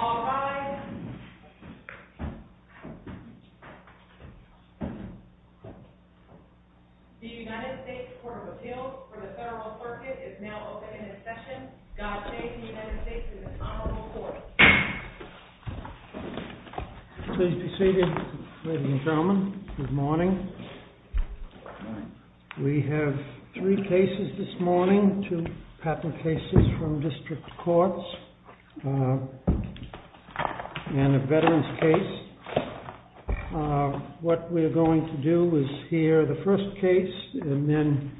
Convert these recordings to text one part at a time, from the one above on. All rise. The United States Court of Appeals for the Federal Circuit is now open for discussion. Scott Chase, the United States Senate Honorable Court. Please be seated, ladies and gentlemen. Good morning. We have three cases this morning, two patent cases from district courts and a veteran's case. What we are going to do is hear the first case and then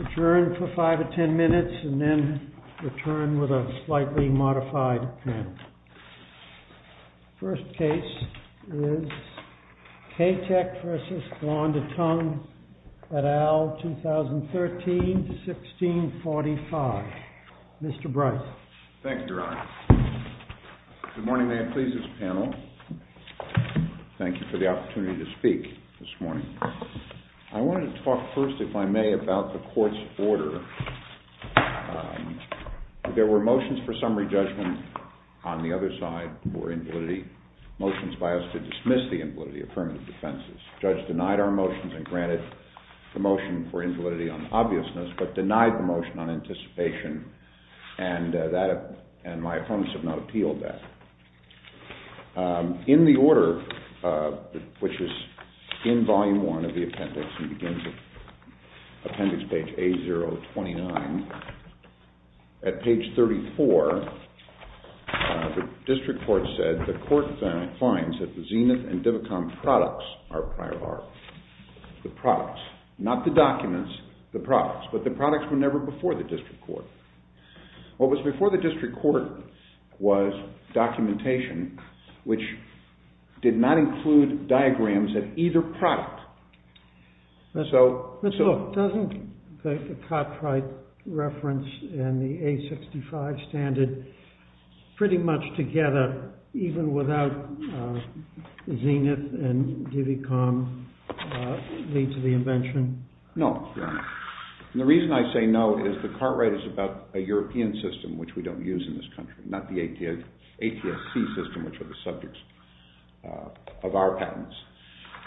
adjourn for five or ten minutes and then return with a slightly modified panel. The first case is K-Tech v. Blonder Tongue et al., 2013-1645. Mr. Bryce. Thank you, Your Honor. Good morning, may it please this panel. Thank you for the opportunity to speak this morning. I wanted to talk first, if I may, about the court's order. There were motions for summary judgment on the other side for invalidity, motions by us to dismiss the invalidity of affirmative defenses. The judge denied our motions and granted the motion for invalidity on the obviousness, but denied the motion on anticipation, and my opponents have not appealed that. In the order, which is in volume one of the appendix, it begins at appendix page A029. At page 34, the district court said the court finds that the Zenith and Divicom products are prior art. The products, not the documents, the products, but the products were never before the district court. What was before the district court was documentation, which did not include diagrams of either product. But look, doesn't the Cartwright reference and the A-65 standard pretty much together, even without Zenith and Divicom lead to the invention? No, Your Honor, and the reason I say no is the Cartwright is about a European system, which we don't use in this country, not the ATSC system, which are the subjects of our patents.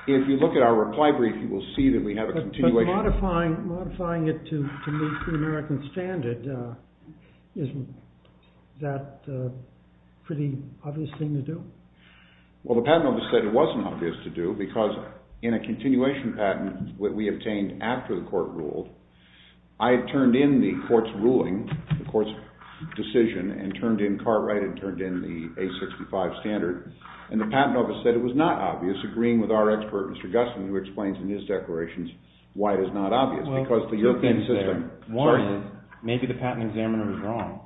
If you look at our reply brief, you will see that we have a continuation. But modifying it to meet the American standard, isn't that a pretty obvious thing to do? Well, the patent office said it wasn't obvious to do because in a continuation patent that we obtained after the court ruled, I had turned in the court's ruling, the court's decision, and turned in Cartwright and turned in the A-65 standard. And the patent office said it was not obvious, agreeing with our expert, Mr. Gustin, who explains in his declarations why it is not obvious. Well, two things there. One is maybe the patent examiner was wrong.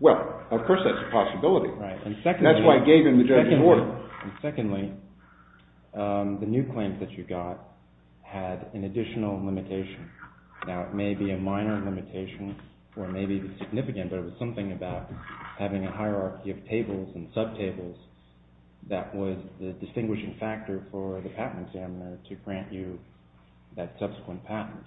Well, of course that's a possibility. That's why I gave him the judge's order. Secondly, the new claims that you got had an additional limitation. Now, it may be a minor limitation, or it may be significant, but it was something about having a hierarchy of tables and sub-tables that was the distinguishing factor for the patent examiner to grant you that subsequent patent.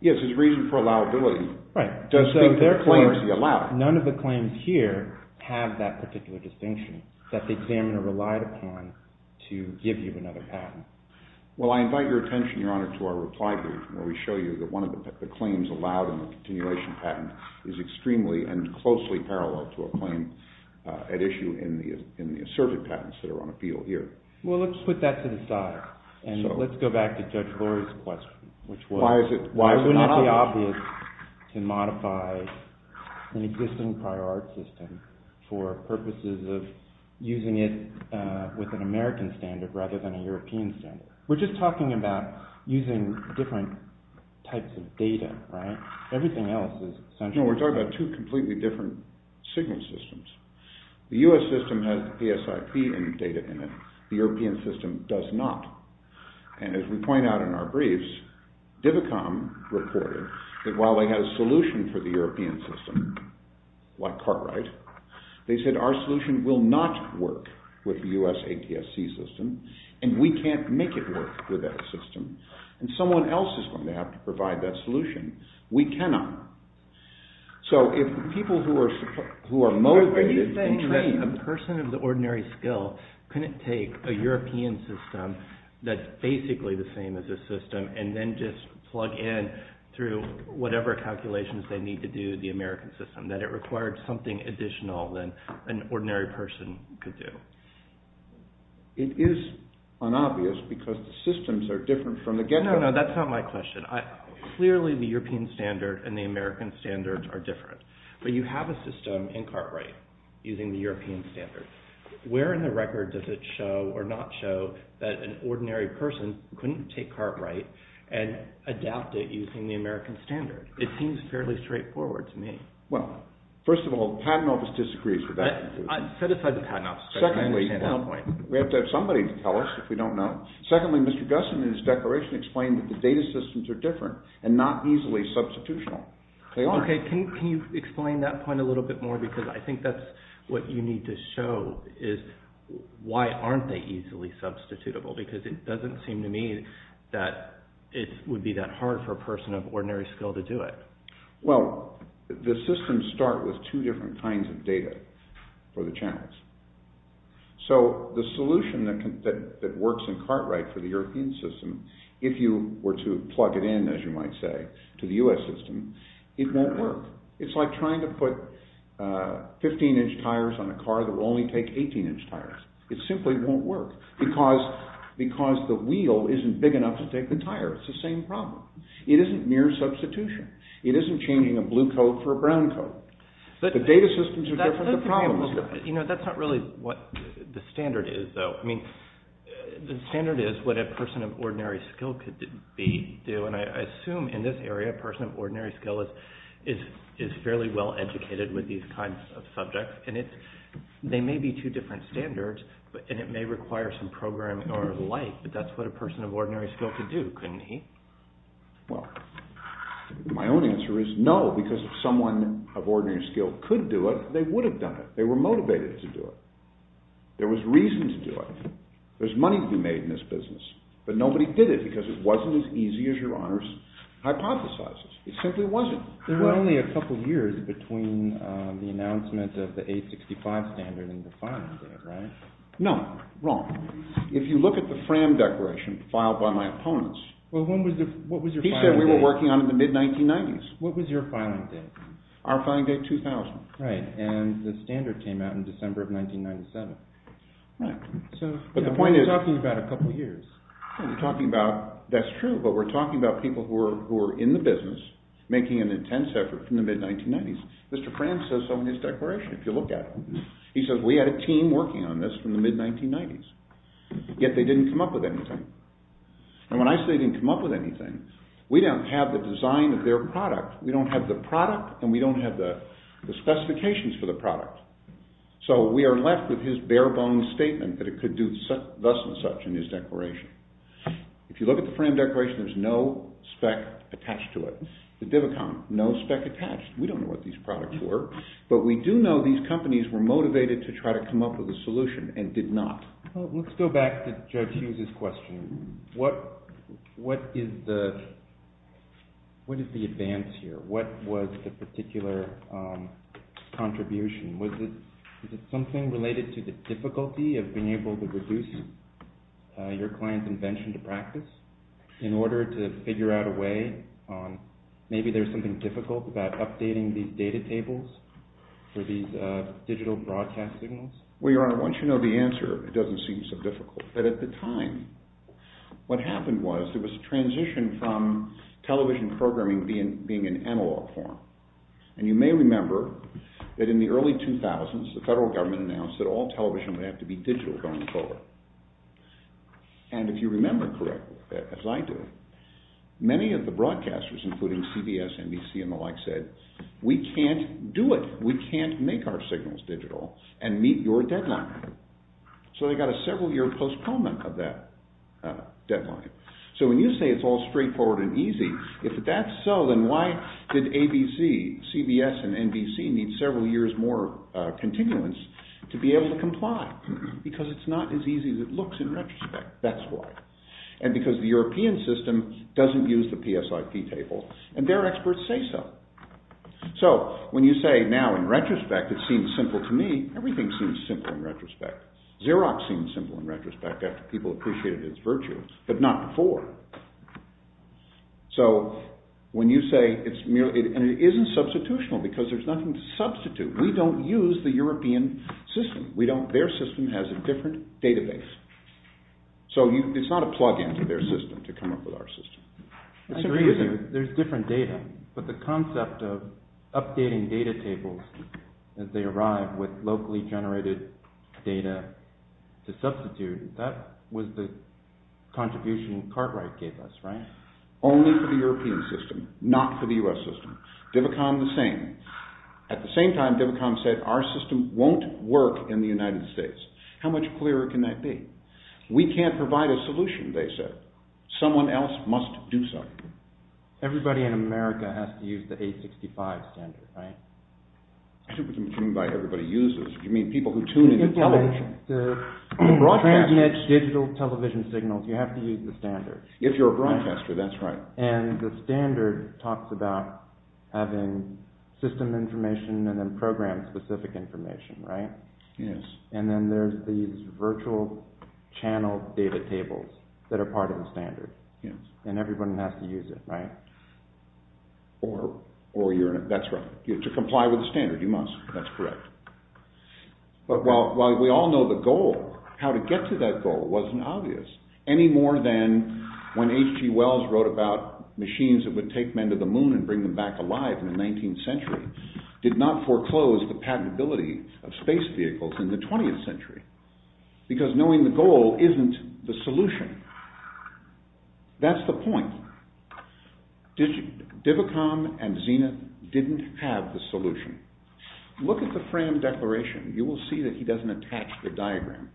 Yes, his reason for allowability. Right. Does speak to the claims he allowed. None of the claims here have that particular distinction that the examiner relied upon to give you another patent. Well, I invite your attention, Your Honor, to our reply brief where we show you that one of the claims allowed in the continuation patent is extremely and closely parallel to a claim at issue in the asserted patents that are on appeal here. Well, let's put that to the side. And let's go back to Judge Glory's question, which was… Why is it not obvious? We're talking about two completely different signal systems. The U.S. system has PSIP and data in it. The European system does not. And as we point out in our briefs, DIVICOM reported that while they had a solution for the European system, like Cartwright, they said our solution will not work with the U.S. ATSC system, and we can't make it work with that system. And someone else is going to have to provide that solution. We cannot. Are you saying that a person of the ordinary skill couldn't take a European system that's basically the same as this system and then just plug in through whatever calculations they need to do the American system, that it required something additional than an ordinary person could do? It is unobvious because the systems are different from the get-go. No, no, that's not my question. Clearly, the European standard and the American standard are different. But you have a system in Cartwright using the European standard. Where in the record does it show or not show that an ordinary person couldn't take Cartwright and adapt it using the American standard? It seems fairly straightforward to me. Well, first of all, the Patent Office disagrees with that. Set aside the Patent Office. We have to have somebody tell us if we don't know. Secondly, Mr. Gussin in his declaration explained that the data systems are different and not easily substitutional. They are. Okay, can you explain that point a little bit more because I think that's what you need to show is why aren't they easily substitutable because it doesn't seem to me that it would be that hard for a person of ordinary skill to do it. Well, the systems start with two different kinds of data for the channels. So the solution that works in Cartwright for the European system, if you were to plug it in, as you might say, to the U.S. system, it won't work. It's like trying to put 15-inch tires on a car that will only take 18-inch tires. It simply won't work because the wheel isn't big enough to take the tire. It's the same problem. It isn't mere substitution. It isn't changing a blue coat for a brown coat. The data systems are different. That's not really what the standard is, though. The standard is what a person of ordinary skill could do, and I assume in this area a person of ordinary skill is fairly well educated with these kinds of subjects. They may be two different standards, and it may require some programming or the like, but that's what a person of ordinary skill could do, couldn't he? Well, my own answer is no, because if someone of ordinary skill could do it, they would have done it. They were motivated to do it. There was reason to do it. There's money to be made in this business, but nobody did it because it wasn't as easy as your honors hypothesizes. It simply wasn't. There were only a couple years between the announcement of the 865 standard and the fine date, right? No, wrong. If you look at the Fram Declaration filed by my opponents, he said we were working on it in the mid-1990s. What was your filing date? Our filing date, 2000. Right, and the standard came out in December of 1997. Right, but the point is— We're talking about a couple years. That's true, but we're talking about people who are in the business making an intense effort from the mid-1990s. Mr. Fram says so in his declaration, if you look at it. He says we had a team working on this from the mid-1990s, yet they didn't come up with anything. And when I say they didn't come up with anything, we don't have the design of their product. We don't have the product, and we don't have the specifications for the product. So we are left with his bare-bones statement that it could do thus and such in his declaration. If you look at the Fram Declaration, there's no spec attached to it. The Div Account, no spec attached. We don't know what these products were, but we do know these companies were motivated to try to come up with a solution and did not. Let's go back to Judge Hughes' question. What is the advance here? What was the particular contribution? Was it something related to the difficulty of being able to reduce your client's invention to practice in order to figure out a way on maybe there's something difficult about updating these data tables for these digital broadcast signals? Well, Your Honor, once you know the answer, it doesn't seem so difficult. But at the time, what happened was there was a transition from television programming being in analog form. And you may remember that in the early 2000s, the federal government announced that all television would have to be digital going forward. And if you remember correctly, as I do, many of the broadcasters, including CBS, NBC, and the like, said, We can't do it. We can't make our signals digital and meet your deadline. So they got a several-year postponement of that deadline. So when you say it's all straightforward and easy, if that's so, then why did ABC, CBS, and NBC need several years more continuance to be able to comply? Because it's not as easy as it looks in retrospect. That's why. And because the European system doesn't use the PSIP table, and their experts say so. So when you say now in retrospect it seems simple to me, everything seems simple in retrospect. Xerox seems simple in retrospect after people appreciated its virtue, but not before. So when you say it's merely – and it isn't substitutional because there's nothing to substitute. We don't use the European system. Their system has a different database. So it's not a plug-in to their system to come up with our system. I agree that there's different data, but the concept of updating data tables as they arrive with locally generated data to substitute, that was the contribution Cartwright gave us, right? Only for the European system, not for the U.S. system. Divicon the same. At the same time, Divicon said our system won't work in the United States. How much clearer can that be? We can't provide a solution, they said. Someone else must do so. Everybody in America has to use the 865 standard, right? I don't mean by everybody uses. I mean people who tune into television. Transient digital television signals, you have to use the standard. If you're a broadcaster, that's right. And the standard talks about having system information and then program-specific information, right? Yes. And then there's these virtual channel data tables that are part of the standard. Yes. And everyone has to use it, right? That's right. To comply with the standard, you must. That's correct. But while we all know the goal, how to get to that goal wasn't obvious, any more than when H.G. Wells wrote about machines that would take men to the moon and bring them back alive in the 19th century, did not foreclose the patentability of space vehicles in the 20th century. Because knowing the goal isn't the solution. That's the point. Divicon and Zenith didn't have the solution. Look at the Fram Declaration. You will see that he doesn't attach the diagram,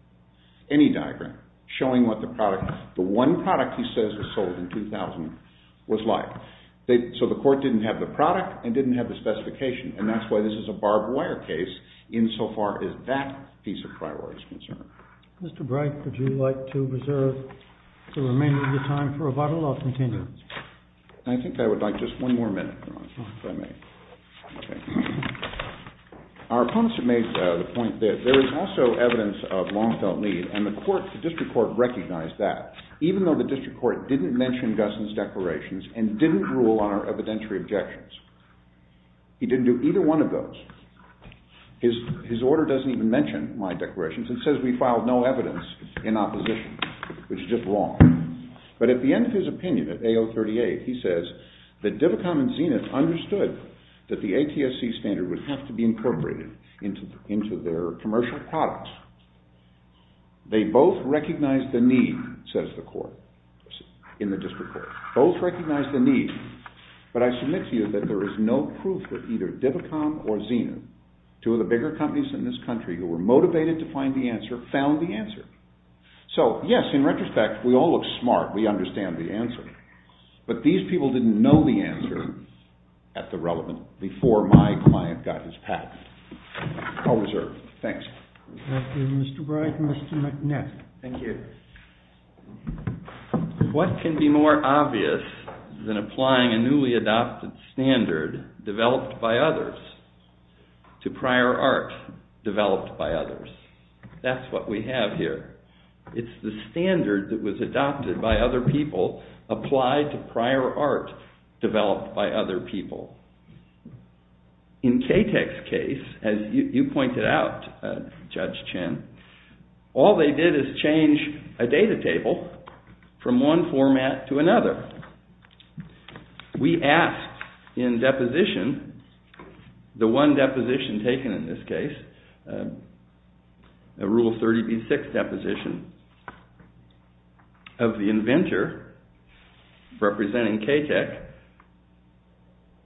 any diagram, showing what the one product he says was sold in 2000 was like. So the court didn't have the product and didn't have the specification, and that's why this is a barbed wire case insofar as that piece of priority is concerned. Mr. Bright, would you like to reserve the remainder of your time for rebuttal or continue? I think I would like just one more minute, if I may. Our opponents have made the point that there is also evidence of long-felt need, and the district court recognized that, even though the district court didn't mention Guston's declarations and didn't rule on our evidentiary objections. He didn't do either one of those. His order doesn't even mention my declarations. It says we filed no evidence in opposition, which is just wrong. But at the end of his opinion, at AO 38, he says that Divicon and Zenith understood that the ATSC standard would have to be incorporated into their commercial products. They both recognized the need, says the court, in the district court. Both recognized the need. But I submit to you that there is no proof that either Divicon or Zenith, two of the bigger companies in this country who were motivated to find the answer, found the answer. So, yes, in retrospect, we all look smart. We understand the answer. But these people didn't know the answer at the relevant, before my client got his patent. I'll reserve. Thanks. Thank you, Mr. Bright. Mr. McNett. Thank you. What can be more obvious than applying a newly adopted standard developed by others to prior art developed by others? That's what we have here. It's the standard that was adopted by other people applied to prior art developed by other people. In KTEC's case, as you pointed out, Judge Chin, all they did is change a data table from one format to another. We asked in deposition, the one deposition taken in this case, a Rule 30b-6 deposition, of the inventor representing KTEC,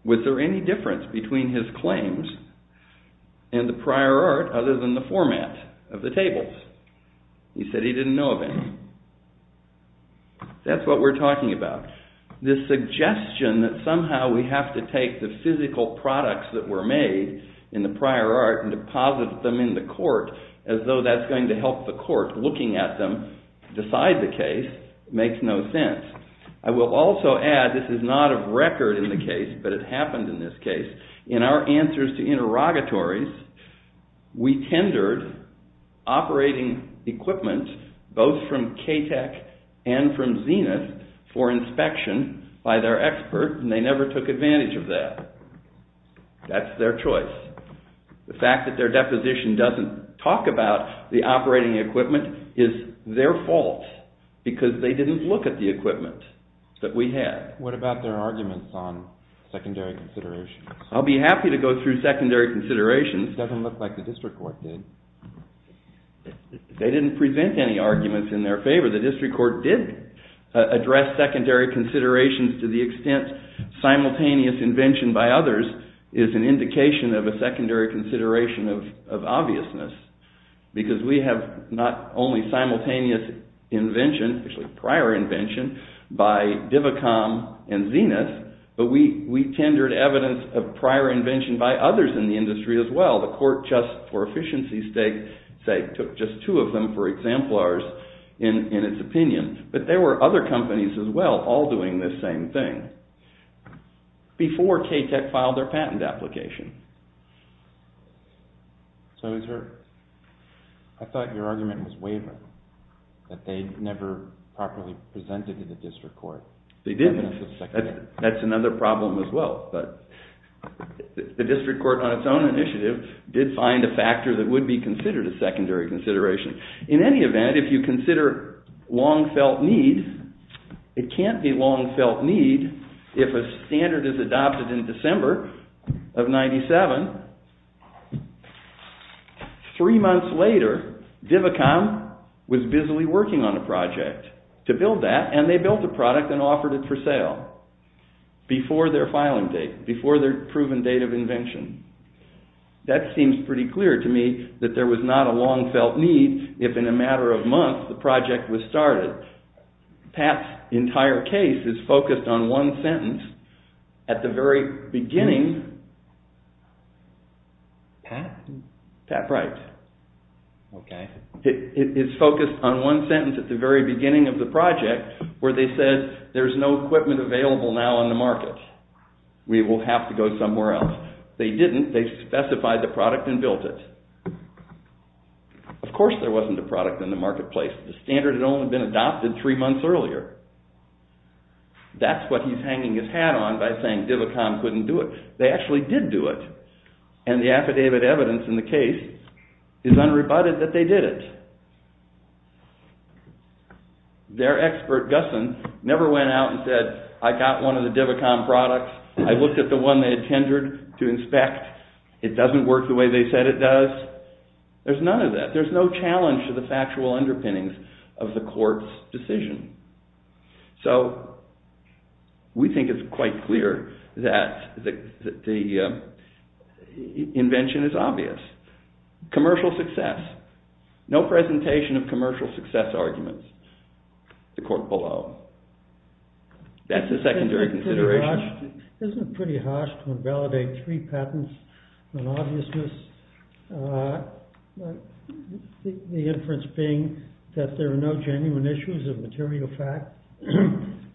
was there any difference between his claims and the prior art other than the format of the tables? He said he didn't know of any. That's what we're talking about. This suggestion that somehow we have to take the physical products that were made in the prior art and deposit them in the court as though that's going to help the court, looking at them, decide the case, makes no sense. I will also add, this is not a record in the case, but it happened in this case, in our answers to interrogatories, we tendered operating equipment, both from KTEC and from Zenith, for inspection by their expert, and they never took advantage of that. That's their choice. The fact that their deposition doesn't talk about the operating equipment is their fault because they didn't look at the equipment that we had. What about their arguments on secondary considerations? I'll be happy to go through secondary considerations. It doesn't look like the district court did. They didn't present any arguments in their favor. The district court did address secondary considerations to the extent simultaneous invention by others is an indication of a secondary consideration of obviousness because we have not only simultaneous invention, actually prior invention, by Divacom and Zenith, but we tendered evidence of prior invention by others in the industry as well. The court just, for efficiency's sake, took just two of them for exemplars in its opinion. But there were other companies as well, all doing this same thing, before KTEC filed their patent application. So I thought your argument was wavering, that they never properly presented to the district court. They did. That's another problem as well. But the district court, on its own initiative, did find a factor that would be considered a secondary consideration. In any event, if you consider long felt need, it can't be long felt need if a standard is adopted in December of 97. Three months later, Divacom was busily working on a project to build that, and they built a product and offered it for sale before their filing date, before their proven date of invention. That seems pretty clear to me, that there was not a long felt need if in a matter of months the project was started. Pat's entire case is focused on one sentence at the very beginning. Pat? Pat Bright. Okay. It's focused on one sentence at the very beginning of the project where they said, there's no equipment available now on the market. We will have to go somewhere else. They didn't. They specified the product and built it. Of course there wasn't a product in the marketplace. The standard had only been adopted three months earlier. That's what he's hanging his hat on by saying Divacom couldn't do it. They actually did do it. And the affidavit evidence in the case is unrebutted that they did it. Their expert, Gusson, never went out and said, I got one of the Divacom products. I looked at the one they had tendered to inspect. It doesn't work the way they said it does. There's none of that. There's no challenge to the factual underpinnings of the court's decision. So we think it's quite clear that the invention is obvious. Commercial success. No presentation of commercial success arguments. The court below. That's a secondary consideration. Isn't it pretty harsh to invalidate three patents with obviousness? The inference being that there are no genuine issues of material fact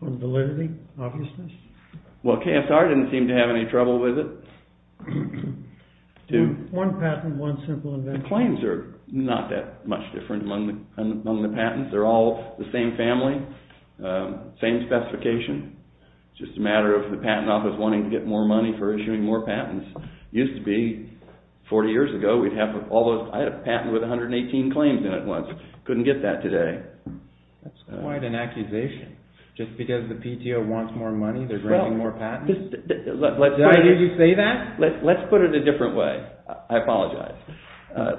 or validity, obviousness? Well, KSR didn't seem to have any trouble with it. One patent, one simple invention. The claims are not that much different among the patents. They're all the same family, same specification. It's just a matter of the patent office wanting to get more money for issuing more patents. Used to be, 40 years ago, I had a patent with 118 claims in it once. Couldn't get that today. That's quite an accusation. Just because the PTO wants more money, they're granting more patents? Did I hear you say that? Let's put it a different way. I apologize.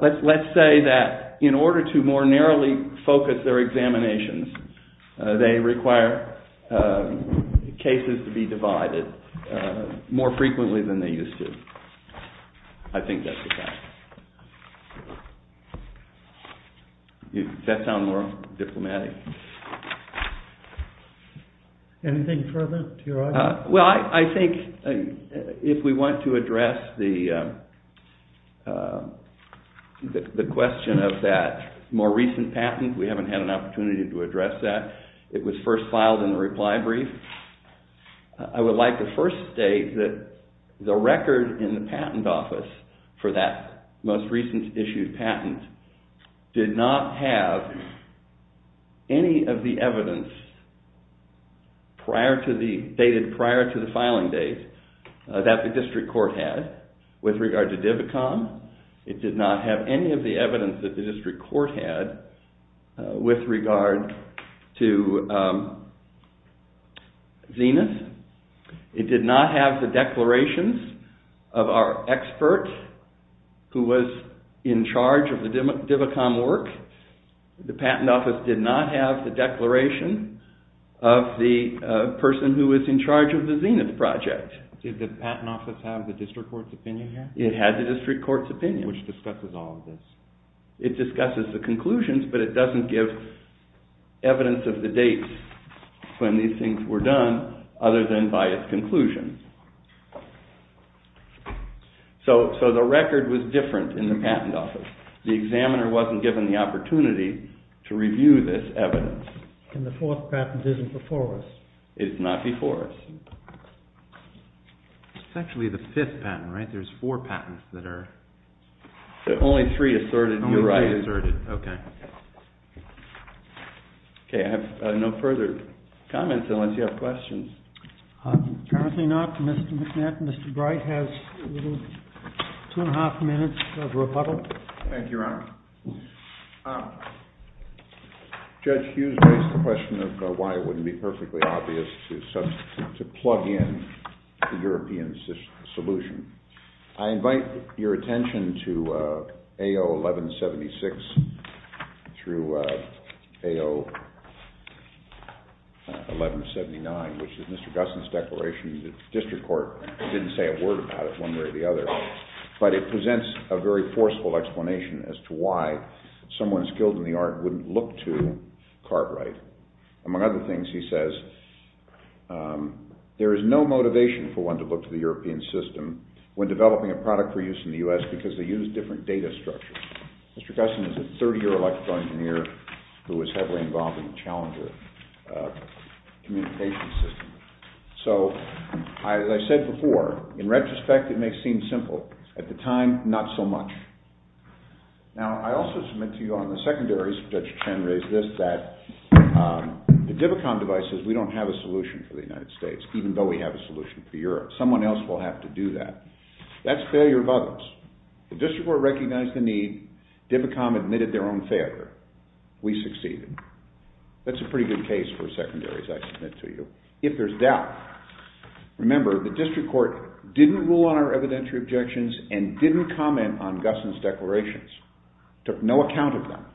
Let's say that in order to more narrowly focus their examinations, they require cases to be divided more frequently than they used to. I think that's a fact. Does that sound more diplomatic? Anything further to your argument? Well, I think if we want to address the question of that more recent patent, we haven't had an opportunity to address that. It was first filed in the reply brief. I would like to first state that the record in the patent office for that most recent issued patent did not have any of the evidence dated prior to the filing date that the district court had with regard to Divicon. It did not have any of the evidence that the district court had with regard to Zenith. It did not have the declarations of our expert who was in charge of the Divicon work. The patent office did not have the declaration of the person who was in charge of the Zenith project. Did the patent office have the district court's opinion here? It had the district court's opinion. Which discusses all of this. It discusses the conclusions, but it doesn't give evidence of the dates when these things were done other than by its conclusions. So the record was different in the patent office. The examiner wasn't given the opportunity to review this evidence. And the fourth patent isn't before us. It's not before us. It's actually the fifth patent, right? There's four patents that are... Only three asserted. Only three asserted, okay. Okay, I have no further comments unless you have questions. Apparently not. Mr. McNett, Mr. Bright has two and a half minutes of rebuttal. Thank you, Your Honor. Judge Hughes raised the question of why it wouldn't be perfectly obvious to plug in the European solution. I invite your attention to AO 1176 through AO 1179, which is Mr. Gusson's declaration that the district court didn't say a word about it one way or the other. But it presents a very forceful explanation as to why someone skilled in the art wouldn't look to Cartwright. Among other things, he says, there is no motivation for one to look to the European system when developing a product for use in the U.S. because they use different data structures. Mr. Gusson is a 30-year electrical engineer who was heavily involved in the Challenger communication system. So, as I said before, in retrospect, it may seem simple. At the time, not so much. Now, I also submit to you on the secondaries, Judge Chen raised this, that the DIVICOM devices, we don't have a solution for the United States, even though we have a solution for Europe. Someone else will have to do that. That's failure of others. The district court recognized the need. DIVICOM admitted their own failure. We succeeded. That's a pretty good case for secondaries, I submit to you. If there's doubt, remember, the district court didn't rule on our evidentiary objections and didn't comment on Gusson's declarations. Took no account of them.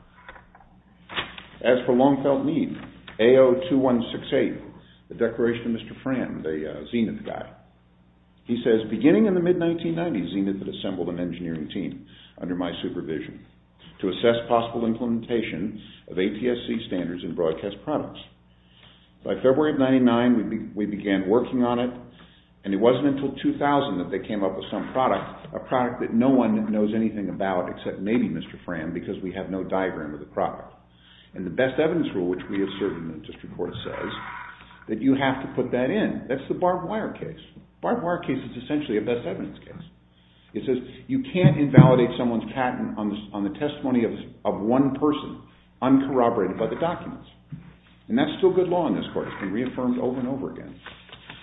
As for long-felt need, AO2168, the declaration of Mr. Fram, the Zenith guy, he says, beginning in the mid-1990s, Zenith had assembled an engineering team under my supervision to assess possible implementation of ATSC standards in broadcast products. By February of 99, we began working on it, and it wasn't until 2000 that they came up with some product, a product that no one knows anything about except maybe Mr. Fram because we have no diagram of the product. And the best evidence rule, which we assert in the district court, says that you have to put that in. That's the barbed wire case. The barbed wire case is essentially a best evidence case. It says you can't invalidate someone's patent on the testimony of one person, uncorroborated by the documents. And that's still good law in this court. It's been reaffirmed over and over again.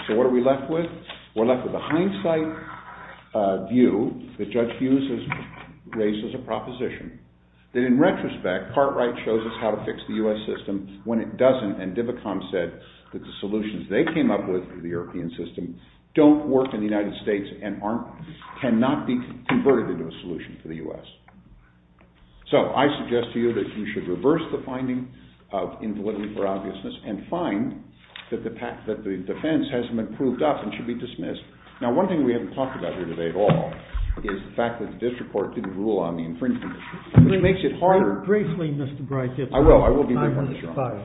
So what are we left with? We're left with a hindsight view that Judge Hughes has raised as a proposition that, in retrospect, part right shows us how to fix the U.S. system when it doesn't, and DIVICOM said that the solutions they came up with for the European system don't work in the United States and cannot be converted into a solution for the U.S. So I suggest to you that you should reverse the finding of invalidity for obviousness and find that the defense hasn't been proved up and should be dismissed. Now, one thing we haven't talked about here today at all is the fact that the district court didn't rule on the infringement issue, which makes it harder. Briefly, Mr. Breyfield. I will. I will be brief on this, Your Honor.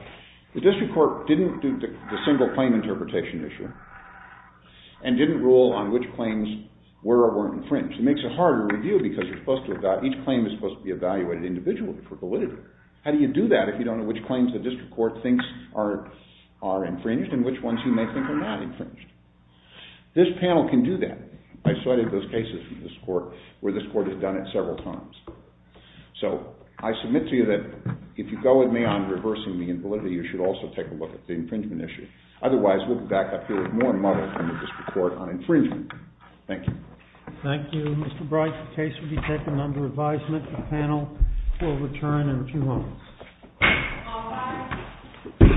The district court didn't do the single claim interpretation issue and didn't rule on which claims were or weren't infringed. It makes it harder to review because you're supposed to evaluate. Each claim is supposed to be evaluated individually for validity. How do you do that if you don't know which claims the district court thinks are infringed and which ones you may think are not infringed? This panel can do that. I cited those cases from this court where this court has done it several times. So I submit to you that if you go with me on reversing the invalidity, you should also take a look at the infringement issue. Otherwise, we'll be back up here with more muddle from the district court on infringement. Thank you. Thank you, Mr. Breyfield. The case will be taken under advisement. The panel will return in a few moments. All rise.